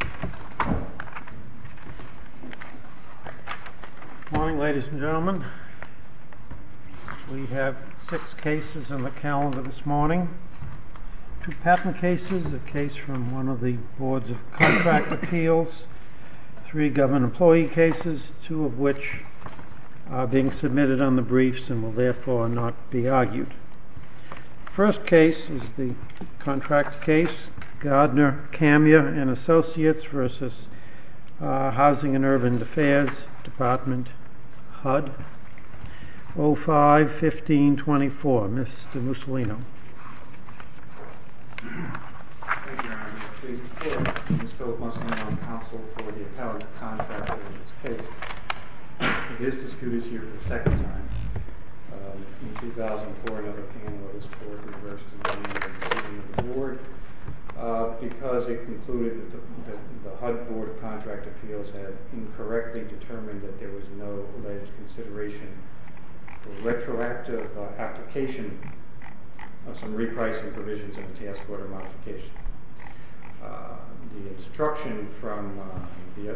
Good morning, ladies and gentlemen. We have six cases on the calendar this morning. Two patent cases, a case from one of the Boards of Contract Appeals, three government employee cases, two of which are being submitted on the briefs and will therefore not be argued. The first case is the contract case, Gardner Kamya & Associates v. Housing and Urban Affairs, Department, HUD, 05-1524. Mr. Mussolino. Thank you, Your Honor. I am pleased to report that Mr. Mussolino counseled for the appellate contractor in this case. This dispute is here for the second time. In 2004, another panelist board reversed the decision of the board because it concluded that the HUD Board of Contract Appeals had incorrectly determined that there was no alleged consideration for retroactive application of some repricing provisions in the task order modification. The instruction from the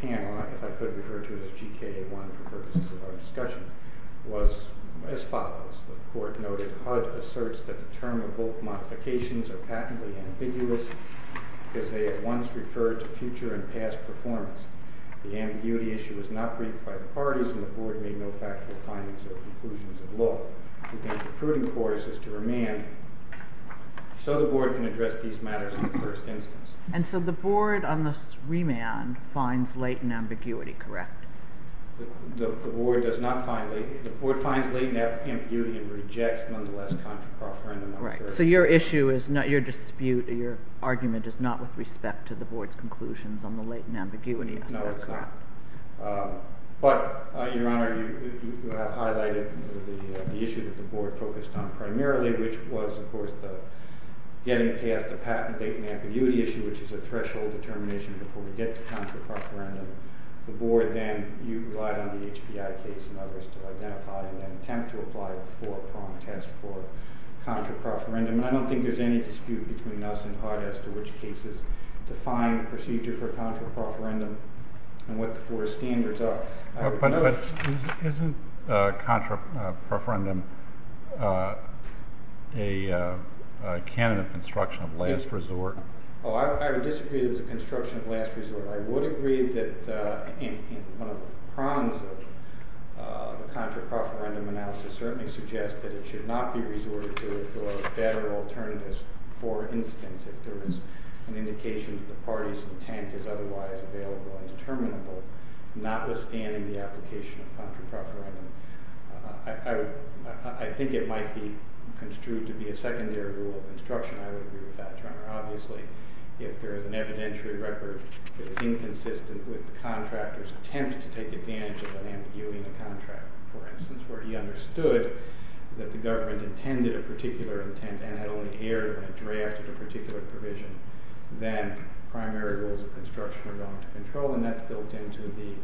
panel, if I could refer to it as GK1 for purposes of our discussion, was as follows. The court noted HUD asserts that the term of both modifications are patently ambiguous because they at once referred to future and past performance. The ambiguity issue was not briefed by the parties, and the board made no factual findings or conclusions of law. We think the prudent course is to remand so the board can address these matters in the first instance. And so the board on this remand finds latent ambiguity, correct? The board does not find latent ambiguity. The board finds latent ambiguity and rejects nonetheless contract referendum on Thursday. So your argument is not with respect to the board's conclusions on the latent ambiguity? No, it's not. But, Your Honor, you have highlighted the issue that the board focused on primarily, which was, of course, getting past the patent latent ambiguity issue, which is a threshold determination before we get to contract referendum. The board then relied on the HBI case and others to identify and then attempt to apply the four prong test for contract referendum, and I don't think there's any dispute between us and HUD as to which cases define the procedure for contract referendum and what the four standards are. But isn't contract referendum a canon of construction of last resort? Oh, I would disagree that it's a construction of last resort. I would agree that one of the prongs of the contract referendum analysis certainly suggests that it should not be resorted to if there are better alternatives. For instance, if there is an indication that the party's intent is otherwise available and determinable, notwithstanding the application of contract referendum, I think it might be construed to be a secondary rule of construction. I would agree with that, Your Honor. Obviously, if there is an evidentiary record that is inconsistent with the contractor's attempt to take advantage of an ambiguity in the contract, for instance, where he understood that the government intended a particular intent and had only erred when it drafted a particular provision, then primary rules of construction are going to control, and that's built into the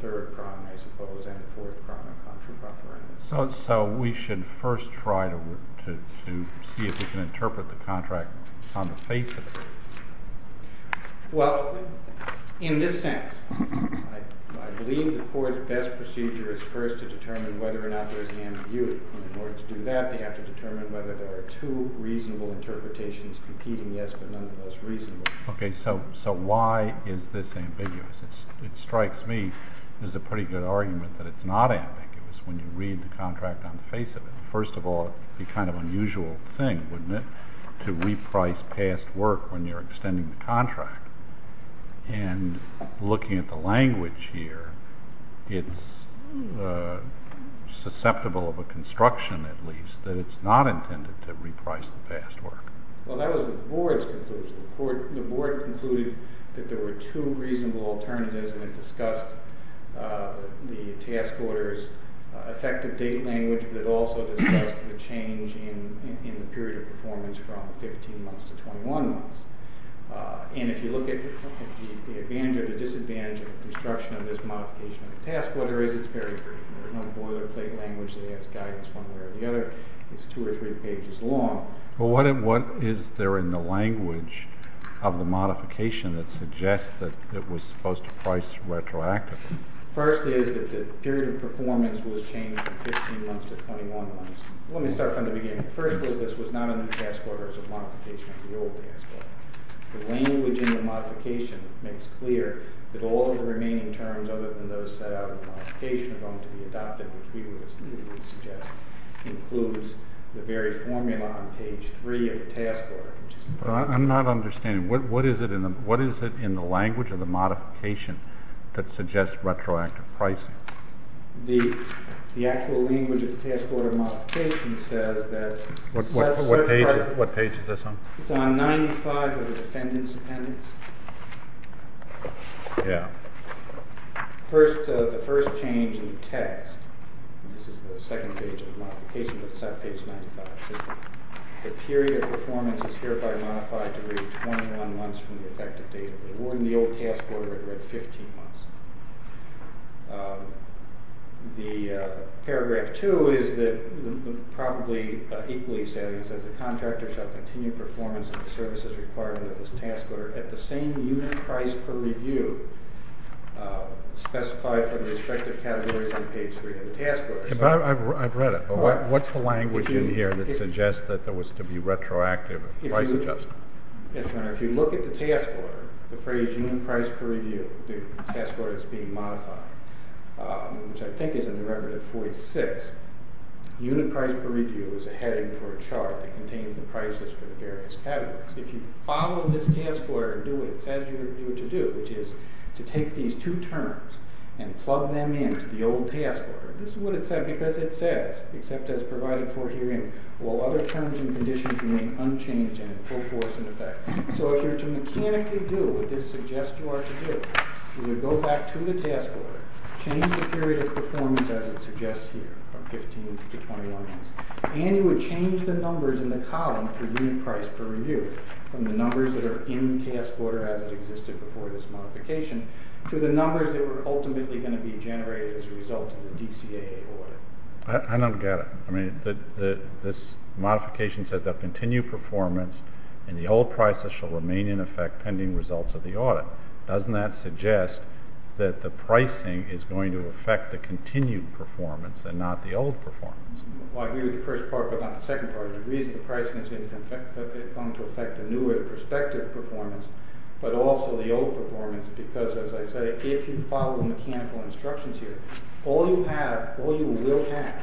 third prong, I suppose, and the fourth prong of contract referendum. So we should first try to see if we can interpret the contract on the face of it. Well, in this sense, I believe the court's best procedure is first to determine whether or not there is an ambiguity. In order to do that, they have to determine whether there are two reasonable interpretations competing, yes, but none of the most reasonable. Okay, so why is this ambiguous? It strikes me as a pretty good argument that it's not ambiguous when you read the contract on the face of it. First of all, it would be kind of an unusual thing, wouldn't it, to reprice past work when you're extending the contract, and looking at the language here, it's susceptible of a construction, at least, that it's not intended to reprice the past work. Well, that was the board's conclusion. The board concluded that there were two reasonable alternatives, and it discussed the task order's effective date language, but it also discussed the change in the period of performance from 15 months to 21 months. And if you look at the advantage or the disadvantage of the construction of this modification of the task order is it's very brief. There's no boilerplate language that has guidance one way or the other. It's two or three pages long. Well, what is there in the language of the modification that suggests that it was supposed to price retroactively? The first is that the period of performance was changed from 15 months to 21 months. Let me start from the beginning. The first was this was not a new task order, it was a modification of the old task order. The language in the modification makes clear that all of the remaining terms other than those set out in the modification are going to be adopted, which we would suggest includes the very formula on page 3 of the task order. I'm not understanding. What is it in the language of the modification that suggests retroactive pricing? The actual language of the task order modification says that... What page is this on? It's on 95 of the defendant's appendix. Yeah. The first change in the text... This is the second page of the modification, but it's not page 95. The period of performance is hereby modified to read 21 months from the effective date of the award, and the old task order it read 15 months. The paragraph 2 is that probably equally says that the contractor shall continue performance of the services required under this task order at the same unit price per review specified for the respective categories on page 3 of the task order. I've read it, but what's the language in here that suggests that there was to be retroactive price adjustment? Yes, Your Honor, if you look at the task order, the phrase unit price per review, the task order that's being modified, which I think is a derivative 46, unit price per review is a heading for a chart that contains the prices for the various categories. If you follow this task order and do what it says you are to do, which is to take these two terms and plug them into the old task order, this is what it said because it says, except as provided for herein, while other terms and conditions remain unchanged and in full force in effect. So if you're to mechanically do what this suggests you are to do, you would go back to the task order, change the period of performance as it suggests here from 15 to 21 months, and you would change the numbers in the column for unit price per review from the numbers that are in the task order as it existed before this modification to the numbers that were ultimately going to be generated as a result of the DCAA audit. I don't get it. I mean, this modification says that continued performance and the old prices shall remain in effect pending results of the audit. Doesn't that suggest that the pricing is going to affect the continued performance and not the old performance? I agree with the first part but not the second part. The reason the pricing is going to affect the newer perspective performance but also the old performance because as I say, if you follow the mechanical instructions here, all you have, all you will have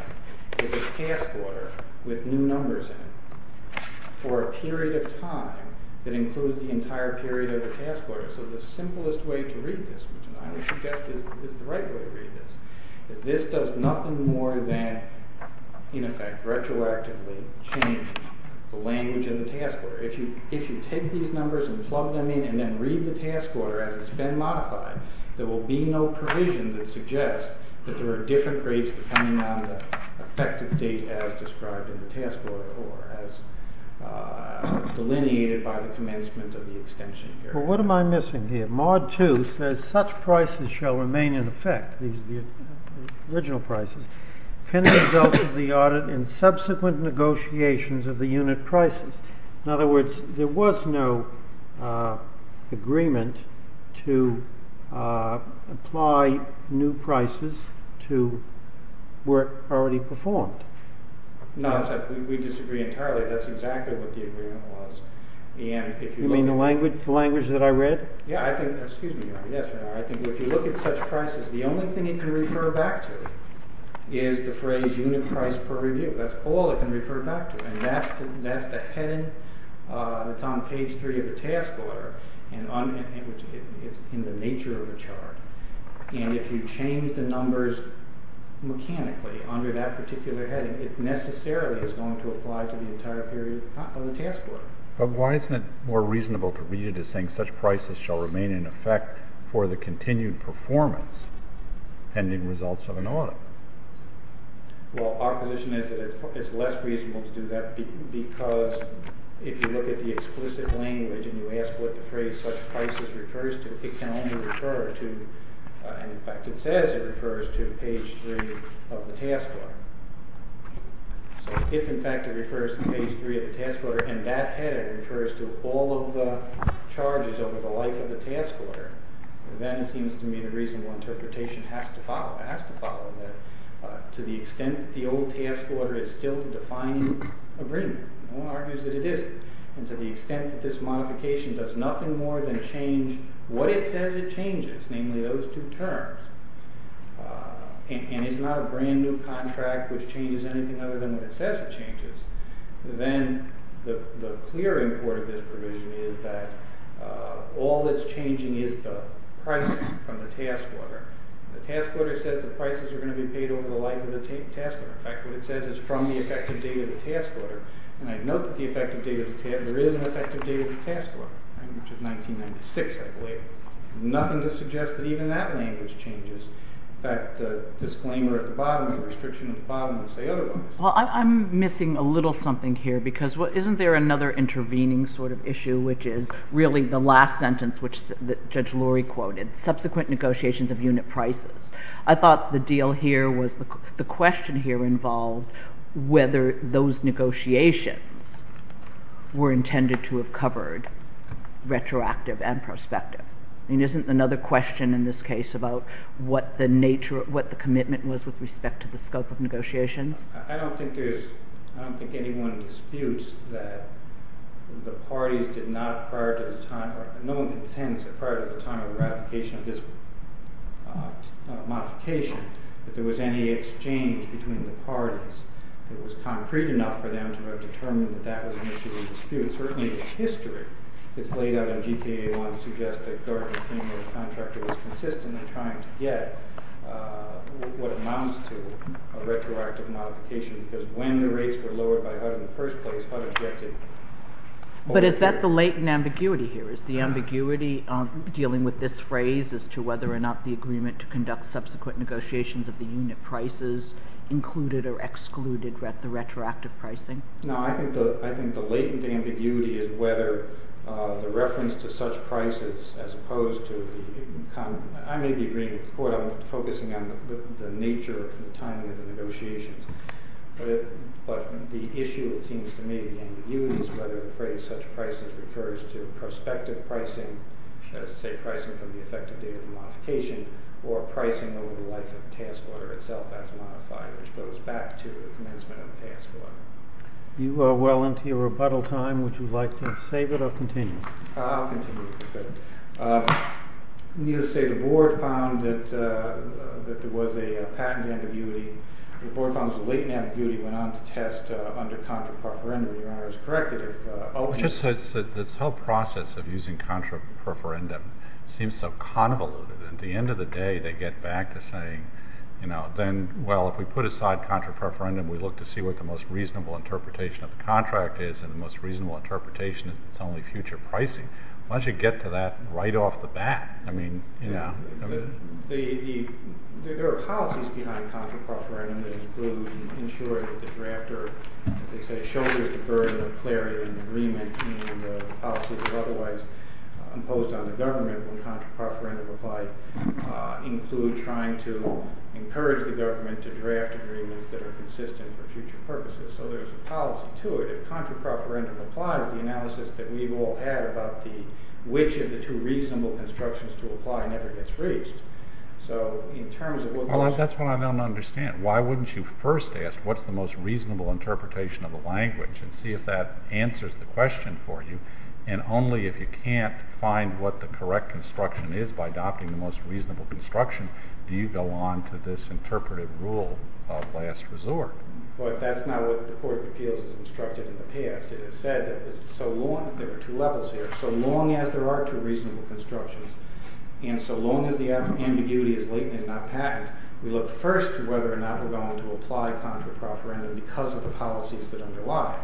is a task order with new numbers in it for a period of time that includes the entire period of the task order. So the simplest way to read this, which I would suggest is the right way to read this, is this does nothing more than in effect retroactively change the language in the task order. If you take these numbers and plug them in and then read the task order as it's been modified, there will be no provision that suggests that there are different rates depending on the effective date as described in the task order or as delineated by the commencement of the extension period. But what am I missing here? Mod 2 says such prices shall remain in effect, the original prices, pending results of the audit in subsequent negotiations of the unit prices. In other words, there was no agreement to apply new prices to work already performed. No, we disagree entirely. That's exactly what the agreement was. You mean the language that I read? Yeah, I think, excuse me, I think if you look at such prices, the only thing you can refer back to is the phrase unit price per review. That's all it can refer back to. And that's the heading that's on page 3 of the task order and it's in the nature of the chart. And if you change the numbers mechanically under that particular heading, it necessarily is going to apply to the entire period of the task order. But why isn't it more reasonable to read it as saying such prices shall remain in effect for the continued performance pending results of an audit? Well, our position is that it's less reasonable to do that because if you look at the explicit language and you ask what the phrase such prices refers to, it can only refer to, in fact it says it refers to page 3 of the task order. So if in fact it refers to page 3 of the task order and that heading refers to all of the charges over the life of the task order, then it seems to me the reasonable interpretation has to follow. To the extent that the old task order is still to define agreement, no one argues that it isn't, and to the extent that this modification does nothing more than change what it says it changes, namely those two terms, and it's not a brand new contract which changes anything other than what it says it changes, then the clear import of this provision is that all that's changing is the pricing from the task order. The task order says the prices are going to be paid over the life of the task order. In fact, what it says is from the effective date of the task order, and I note that there is an effective date of the task order, which is 1996, I believe. Nothing to suggest that even that language changes. In fact, the disclaimer at the bottom, the restriction at the bottom will say otherwise. Well, I'm missing a little something here because isn't there another intervening sort of issue, which is really the last sentence which Judge Lurie quoted, subsequent negotiations of unit prices. I thought the deal here was the question here involved whether those negotiations were intended to have covered retroactive and prospective. I mean, isn't another question in this case about what the nature, what the commitment was with respect to the scope of negotiations? I don't think there's, I don't think anyone disputes that the parties did not prior to the time, or no one can sense that prior to the time of the ratification of this modification that there was any exchange between the parties. It was concrete enough for them to have determined that that was an issue of dispute. Certainly, the history that's laid out in G.K.A. 1 suggests that Gardner King, the contractor, was consistently trying to get what amounts to a retroactive modification because when the rates were lowered by HUD in the first place, HUD objected. But is that the latent ambiguity here? Is the ambiguity dealing with this phrase as to whether or not the agreement to conduct subsequent negotiations of the unit prices included or excluded the retroactive pricing? No, I think the latent ambiguity is whether the reference to such prices as opposed to the, I may be agreeing with the court, I'm focusing on the nature of the timing of the negotiations, but the issue, it seems to me, the ambiguity is whether the phrase such prices refers to prospective pricing, say pricing from the effective date of the modification, or pricing over the life of the task order itself as modified, which goes back to the commencement of the task order. You are well into your rebuttal time. Would you like to save it or continue? I'll continue. Good. Needless to say, the board found that there was a patent ambiguity. The board found there was a latent ambiguity and went on to test under contra preferendum. Your Honor, is it correct that if openness This whole process of using contra preferendum seems so convoluted. At the end of the day, they get back to saying, well, if we put aside contra preferendum, we look to see what the most reasonable interpretation of the contract is, and the most reasonable interpretation is that it's only future pricing. Why don't you get to that right off the bat? There are policies behind contra preferendum that include ensuring that the drafter, as they say, shoulders the burden of clarity and agreement, and the policies that are otherwise imposed on the government when contra preferendum applied include trying to encourage the government to draft agreements that are consistent for future purposes. So there's a policy to it. If contra preferendum applies, the analysis that we've all had about which of the two reasonable constructions to apply never gets reached. That's what I don't understand. Why wouldn't you first ask what's the most reasonable interpretation of the language and see if that answers the question for you? And only if you can't find what the correct construction is by adopting the most reasonable construction do you go on to this interpretive rule of last resort. But that's not what the Court of Appeals has instructed in the past. It has said that there are two levels here. So long as there are two reasonable constructions, and so long as the ambiguity is latent and not patent, we look first to whether or not we're going to apply contra preferendum because of the policies that underlie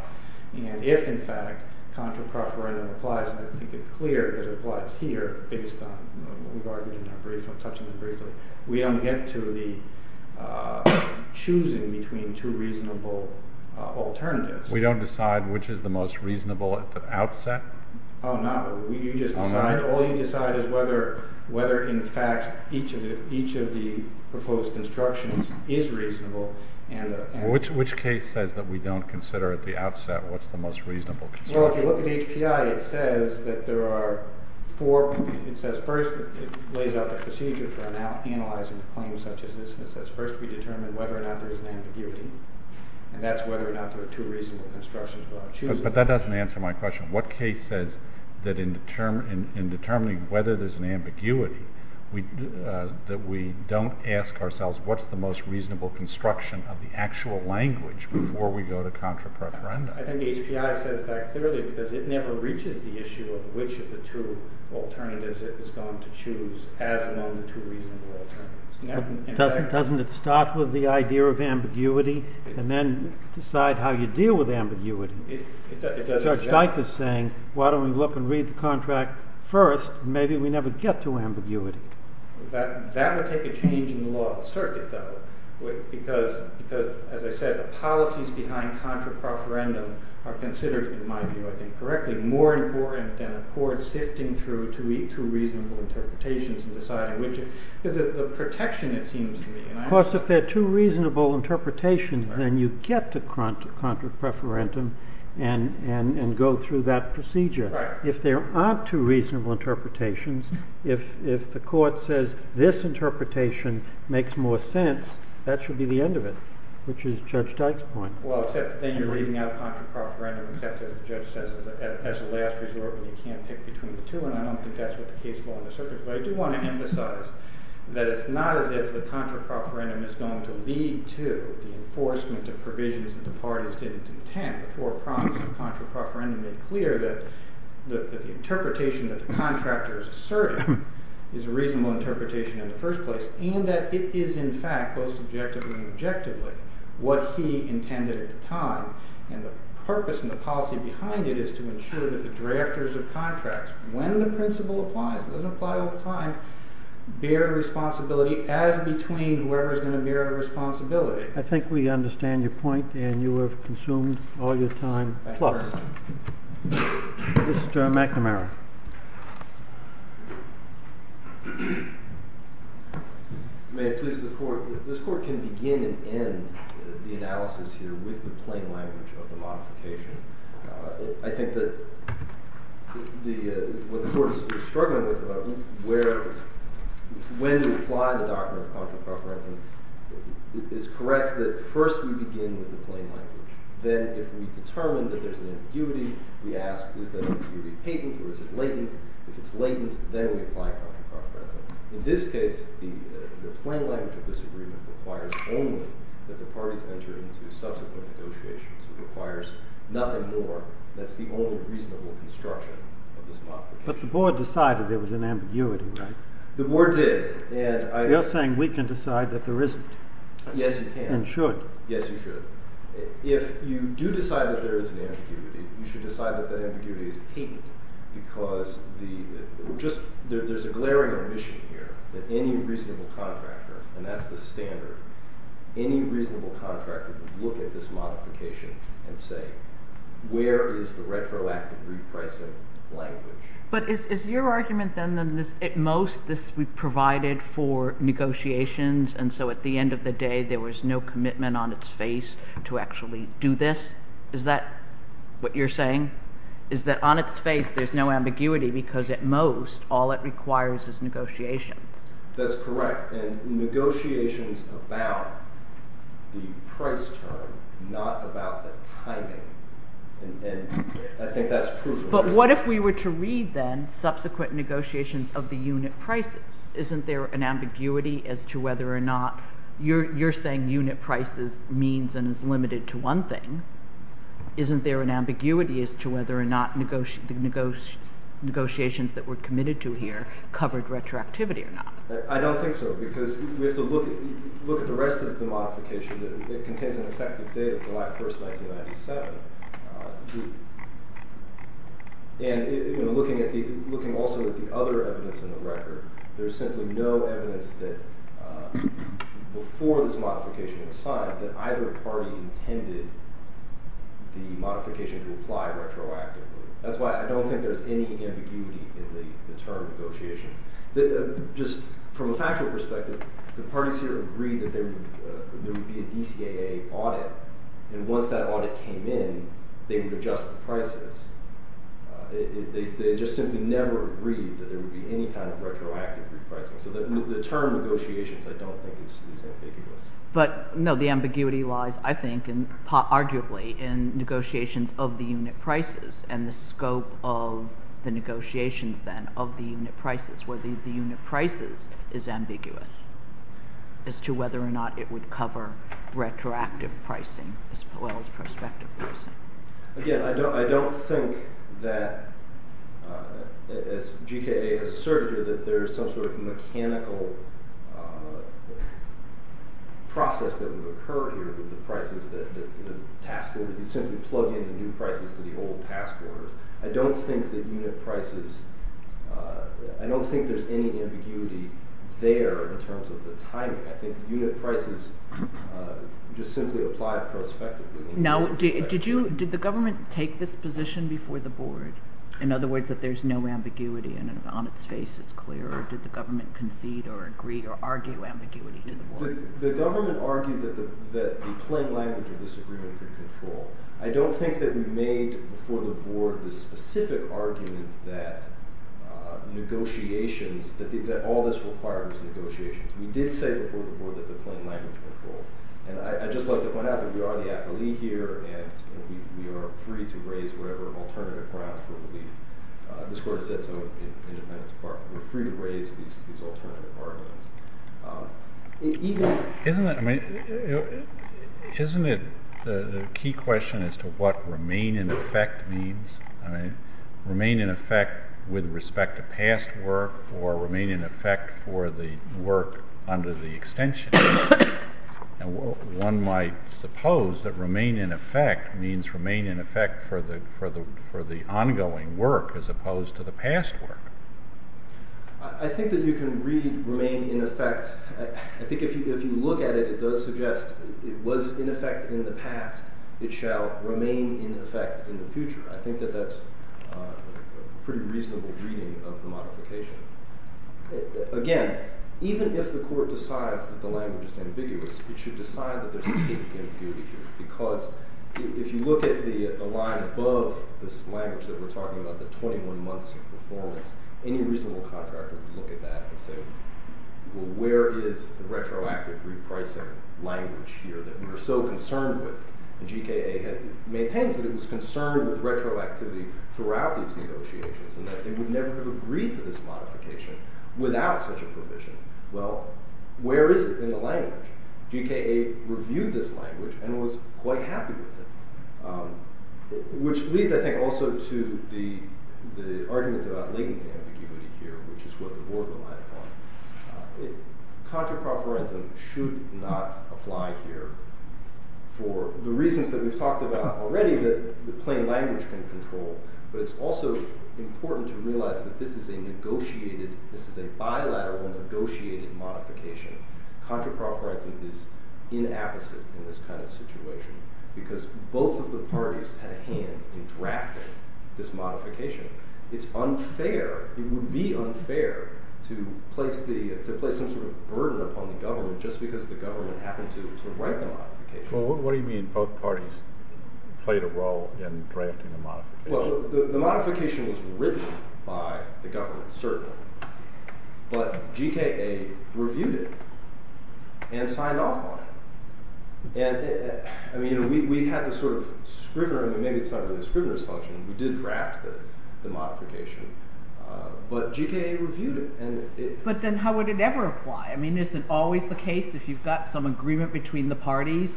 it. And if, in fact, contra preferendum applies, and I think it's clear that it applies here based on what we've argued and I'm touching on briefly, we don't get to the choosing between two reasonable alternatives. We don't decide which is the most reasonable at the outset? Oh, no. You just decide. All you decide is whether, in fact, each of the proposed constructions is reasonable. Which case says that we don't consider at the outset what's the most reasonable construction? Well, if you look at HPI, it says that there are four. It says first it lays out the procedure for analyzing a claim such as this. And it says first we determine whether or not there's an ambiguity. And that's whether or not there are two reasonable constructions without choosing. But that doesn't answer my question. What case says that in determining whether there's an ambiguity that we don't ask ourselves what's the most reasonable construction of the actual language before we go to contra preferendum? I think HPI says that clearly because it never reaches the issue of which of the two alternatives it has gone to choose as among the two reasonable alternatives. Doesn't it start with the idea of ambiguity and then decide how you deal with ambiguity? It does exactly that. So it's like saying, why don't we look and read the contract first? Maybe we never get to ambiguity. That would take a change in the law of the circuit, though, because, as I said, the policies behind contra preferendum are considered, in my view, I think correctly, more important than a court sifting through two reasonable interpretations and deciding which is the protection, it seems to me. Because if there are two reasonable interpretations, then you get to contra preferendum and go through that procedure. If there aren't two reasonable interpretations, if the court says this interpretation makes more sense, that should be the end of it, which is Judge Dyke's point. Well, except then you're leaving out contra preferendum, except, as the judge says, as a last resort when you can't pick between the two. And I don't think that's what the case law in the circuit, but I do want to emphasize that it's not as if the contra preferendum is going to lead to the enforcement of provisions that the parties didn't intend. The four prongs of contra preferendum made clear that the interpretation that the contractors asserted is a reasonable interpretation in the first place, and that it is in fact, both subjectively and objectively, what he intended at the time. And the purpose and the policy behind it is to ensure that the drafters of contracts, when the principle applies, it doesn't apply all the time, bear the responsibility as between whoever is going to bear the responsibility. I think we understand your point, and you have consumed all your time. Mr. McNamara. May it please the Court. This Court can begin and end the analysis here with the plain language of the modification. I think that what the Court is struggling with about when to apply the doctrine of contra preferendum is correct that first we begin with the plain language. Then if we determine that there's an ambiguity, we ask is that ambiguity patent or is it latent? If it's latent, then we apply contra preferendum. In this case, the plain language of disagreement requires only that the parties enter into subsequent negotiations. It requires nothing more. That's the only reasonable construction of this doctrine. But the board decided there was an ambiguity, right? The board did. You're saying we can decide that there isn't. Yes, you can. And should. Yes, you should. If you do decide that there is an ambiguity, you should decide that that ambiguity is patent. Because there's a glaring omission here that any reasonable contractor, and that's the standard, any reasonable contractor would look at this modification and say where is the retroactive repricing language? But is your argument then that at most this would be provided for negotiations, and so at the end of the day there was no commitment on its face to actually do this? Is that what you're saying? Is that on its face there's no ambiguity because at most all it requires is negotiations? That's correct. And negotiations about the price term, not about the timing. And I think that's crucial. But what if we were to read then subsequent negotiations of the unit prices? Isn't there an ambiguity as to whether or not you're saying unit prices means and is limited to one thing? Isn't there an ambiguity as to whether or not negotiations that were committed to here covered retroactivity or not? I don't think so because we have to look at the rest of the modification. It contains an effective date, July 1, 1997. And looking also at the other evidence in the record, there's simply no evidence that before this modification was signed that either party intended the modification to apply retroactively. That's why I don't think there's any ambiguity in the term negotiations. Just from a factual perspective, the parties here agreed that there would be a DCAA audit, and once that audit came in, they would adjust the prices. They just simply never agreed that there would be any kind of retroactive repricing. So the term negotiations I don't think is ambiguous. But, no, the ambiguity lies, I think, arguably, in negotiations of the unit prices and the scope of the negotiations then of the unit prices, where the unit prices is ambiguous as to whether or not it would cover retroactive pricing as well as prospective pricing. Again, I don't think that, as GKA has asserted here, that there is some sort of mechanical process that would occur here with the prices. The task order, you simply plug in the new prices to the old task orders. I don't think there's any ambiguity there in terms of the timing. I think unit prices just simply apply prospectively. Now, did the government take this position before the board? In other words, that there's no ambiguity and on its face it's clear, or did the government concede or agree or argue ambiguity to the board? The government argued that the plain language of this agreement could control. I don't think that we made before the board the specific argument that negotiations, that all this requires negotiations. We did say before the board that the plain language controlled. And I'd just like to point out that we are the appellee here and we are free to raise whatever alternative grounds for relief. This Court has said so in its independence department. We're free to raise these alternative arguments. Isn't it the key question as to what remain in effect means? Remain in effect with respect to past work or remain in effect for the work under the extension? One might suppose that remain in effect means remain in effect for the ongoing work as opposed to the past work. I think that you can read remain in effect. I think if you look at it, it does suggest it was in effect in the past. It shall remain in effect in the future. I think that that's a pretty reasonable reading of the modification. Again, even if the Court decides that the language is ambiguous, it should decide that there's an ambiguity here. Because if you look at the line above this language that we're talking about, the 21 months of performance, any reasonable contractor would look at that and say, well, where is the retroactive repricing language here that we were so concerned with? And GKA maintains that it was concerned with retroactivity throughout these negotiations and that they would never have agreed to this modification without such a provision. Well, where is it in the language? GKA reviewed this language and was quite happy with it, which leads, I think, also to the argument about latency ambiguity here, which is what the Board relied upon. Contra pro forensic should not apply here for the reasons that we've talked about already that the plain language can control. But it's also important to realize that this is a negotiated, this is a bilateral negotiated modification. Contra pro forensic is inapposite in this kind of situation because both of the parties had a hand in drafting this modification. It's unfair, it would be unfair to place some sort of burden upon the government just because the government happened to write the modification. Well, what do you mean both parties played a role in drafting the modification? Well, the modification was written by the government, certainly, but GKA reviewed it and signed off on it. And we had this sort of scrivener – maybe it's not really a scrivener's function. We did draft the modification, but GKA reviewed it. But then how would it ever apply? I mean, isn't it always the case if you've got some agreement between the parties,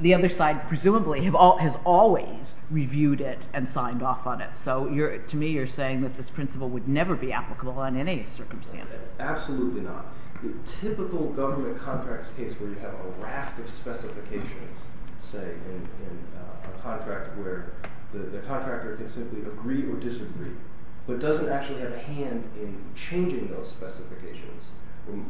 the other side presumably has always reviewed it and signed off on it. So to me you're saying that this principle would never be applicable under any circumstance. Absolutely not. The typical government contract's case where you have a raft of specifications, say, in a contract where the contractor can simply agree or disagree, but doesn't actually have a hand in changing those specifications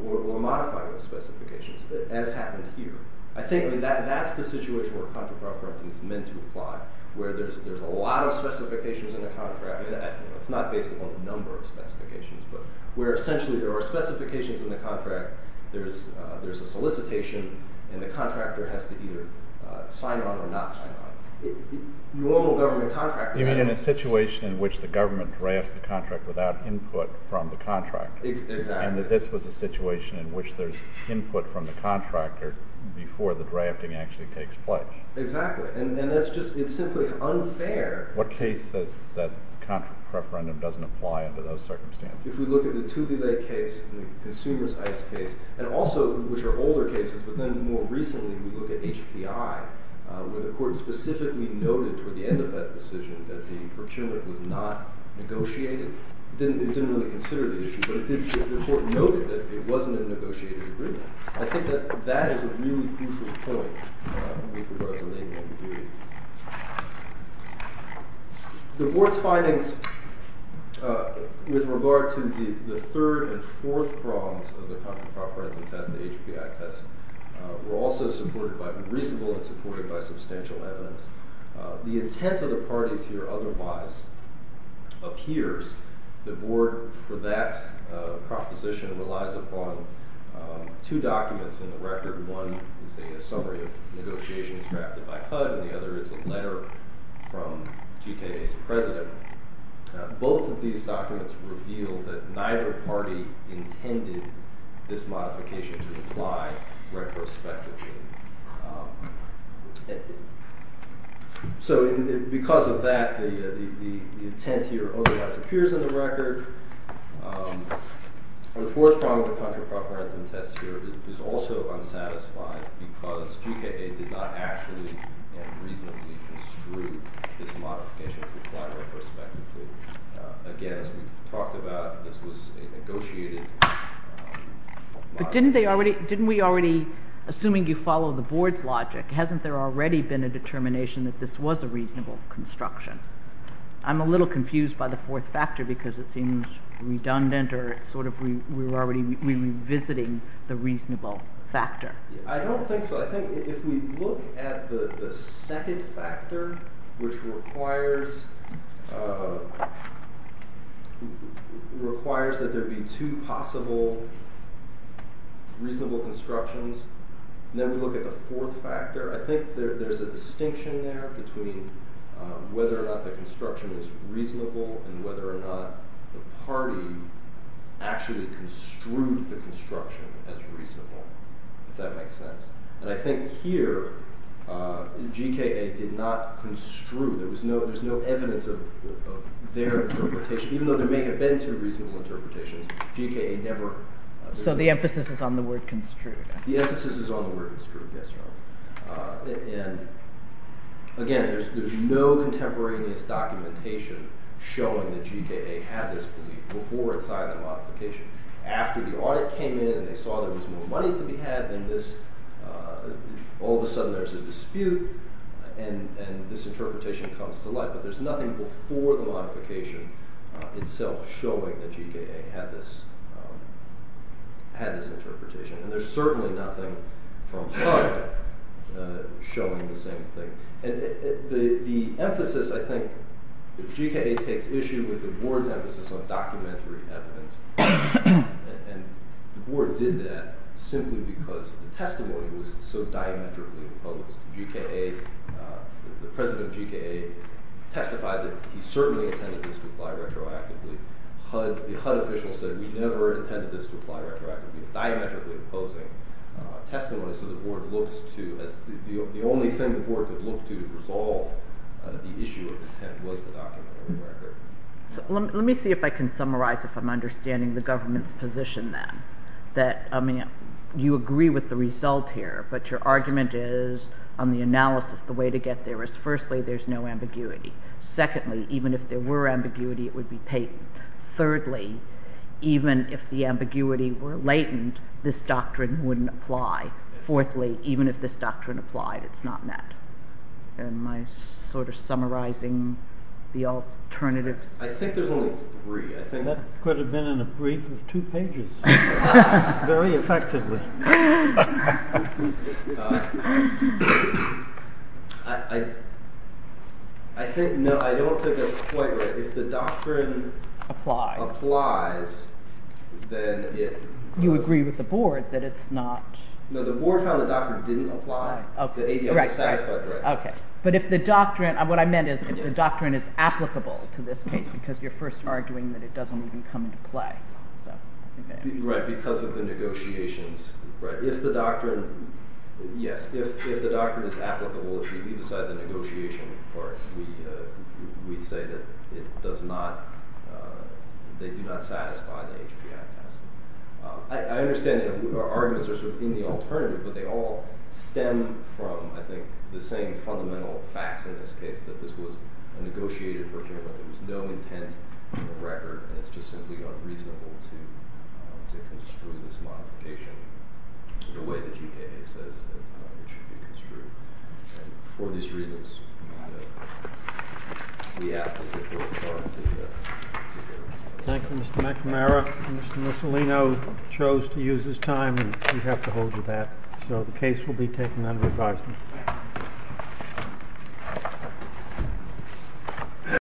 or modifying those specifications, as happened here. I think that that's the situation where a contract referendum is meant to apply, where there's a lot of specifications in a contract. It's not based upon the number of specifications, but where essentially there are specifications in the contract, there's a solicitation, and the contractor has to either sign on or not sign on. You own a government contract. You mean in a situation in which the government drafts the contract without input from the contractor. Exactly. And that this was a situation in which there's input from the contractor before the drafting actually takes place. Exactly. And that's just – it's simply unfair. What case says that contract referendum doesn't apply under those circumstances? If we look at the Thule Lake case and the Consumers Ice case, and also which are older cases, but then more recently we look at HPI, where the court specifically noted toward the end of that decision that the procurement was not negotiated. It didn't really consider the issue, but the court noted that it wasn't a negotiated agreement. I think that that is a really crucial point with regard to Lakeland. The board's findings with regard to the third and fourth prongs of the contract referendum test, the HPI test, were also supported by reasonable and supported by substantial evidence. The intent of the parties here otherwise appears. The board for that proposition relies upon two documents in the record. One is a summary of negotiations drafted by HUD, and the other is a letter from GKA's president. Both of these documents reveal that neither party intended this modification to apply retrospectively. So because of that, the intent here otherwise appears in the record. The fourth prong of the contract referendum test here is also unsatisfied because GKA did not actually and reasonably construe this modification to apply retrospectively. Again, as we've talked about, this was a negotiated— But didn't they already—didn't we already, assuming you follow the board's logic, hasn't there already been a determination that this was a reasonable construction? I'm a little confused by the fourth factor because it seems redundant or it's sort of we're already revisiting the reasonable factor. I don't think so. I think if we look at the second factor, which requires that there be two possible reasonable constructions, and then we look at the fourth factor, I think there's a distinction there between whether or not the construction is reasonable and whether or not the party actually construed the construction as reasonable, if that makes sense. And I think here GKA did not construe. There was no—there's no evidence of their interpretation. Even though there may have been two reasonable interpretations, GKA never— I guess this is on the word construed, yes or no. And again, there's no contemporaneous documentation showing that GKA had this belief before it signed the modification. After the audit came in and they saw there was more money to be had than this, all of a sudden there's a dispute and this interpretation comes to light. But there's nothing before the modification itself showing that GKA had this interpretation. And there's certainly nothing from HUD showing the same thing. And the emphasis, I think, GKA takes issue with the board's emphasis on documentary evidence. And the board did that simply because the testimony was so diametrically opposed. GKA—the president of GKA testified that he certainly intended this to apply retroactively. HUD officials said we never intended this to apply retroactively. Diametrically opposing testimony so the board looks to—the only thing the board could look to to resolve the issue of intent was the documentary record. Let me see if I can summarize if I'm understanding the government's position then. That, I mean, you agree with the result here, but your argument is, on the analysis, the way to get there is, firstly, there's no ambiguity. Secondly, even if there were ambiguity, it would be patent. Thirdly, even if the ambiguity were latent, this doctrine wouldn't apply. Fourthly, even if this doctrine applied, it's not met. Am I sort of summarizing the alternatives? I think there's only three. That could have been in a brief of two pages. Very effectively. I think—no, I don't think that's quite right. If the doctrine applies, then it— You agree with the board that it's not— No, the board found the doctrine didn't apply. Okay. But if the doctrine—what I meant is if the doctrine is applicable to this case because you're first arguing that it doesn't even come into play. Right, because of the negotiations. If the doctrine—yes, if the doctrine is applicable, if we leave aside the negotiation part, we say that it does not—they do not satisfy the HBI test. I understand that our arguments are sort of in the alternative, but they all stem from, I think, the same fundamental facts in this case, that this was a negotiated procurement. There was no intent on the record, and it's just simply unreasonable to construe this modification the way the GKA says that it should be construed. And for these reasons, we ask that the board— Thank you, Mr. McNamara. Mr. Mussolino chose to use his time, and we have to hold you to that. So the case will be taken under advisement.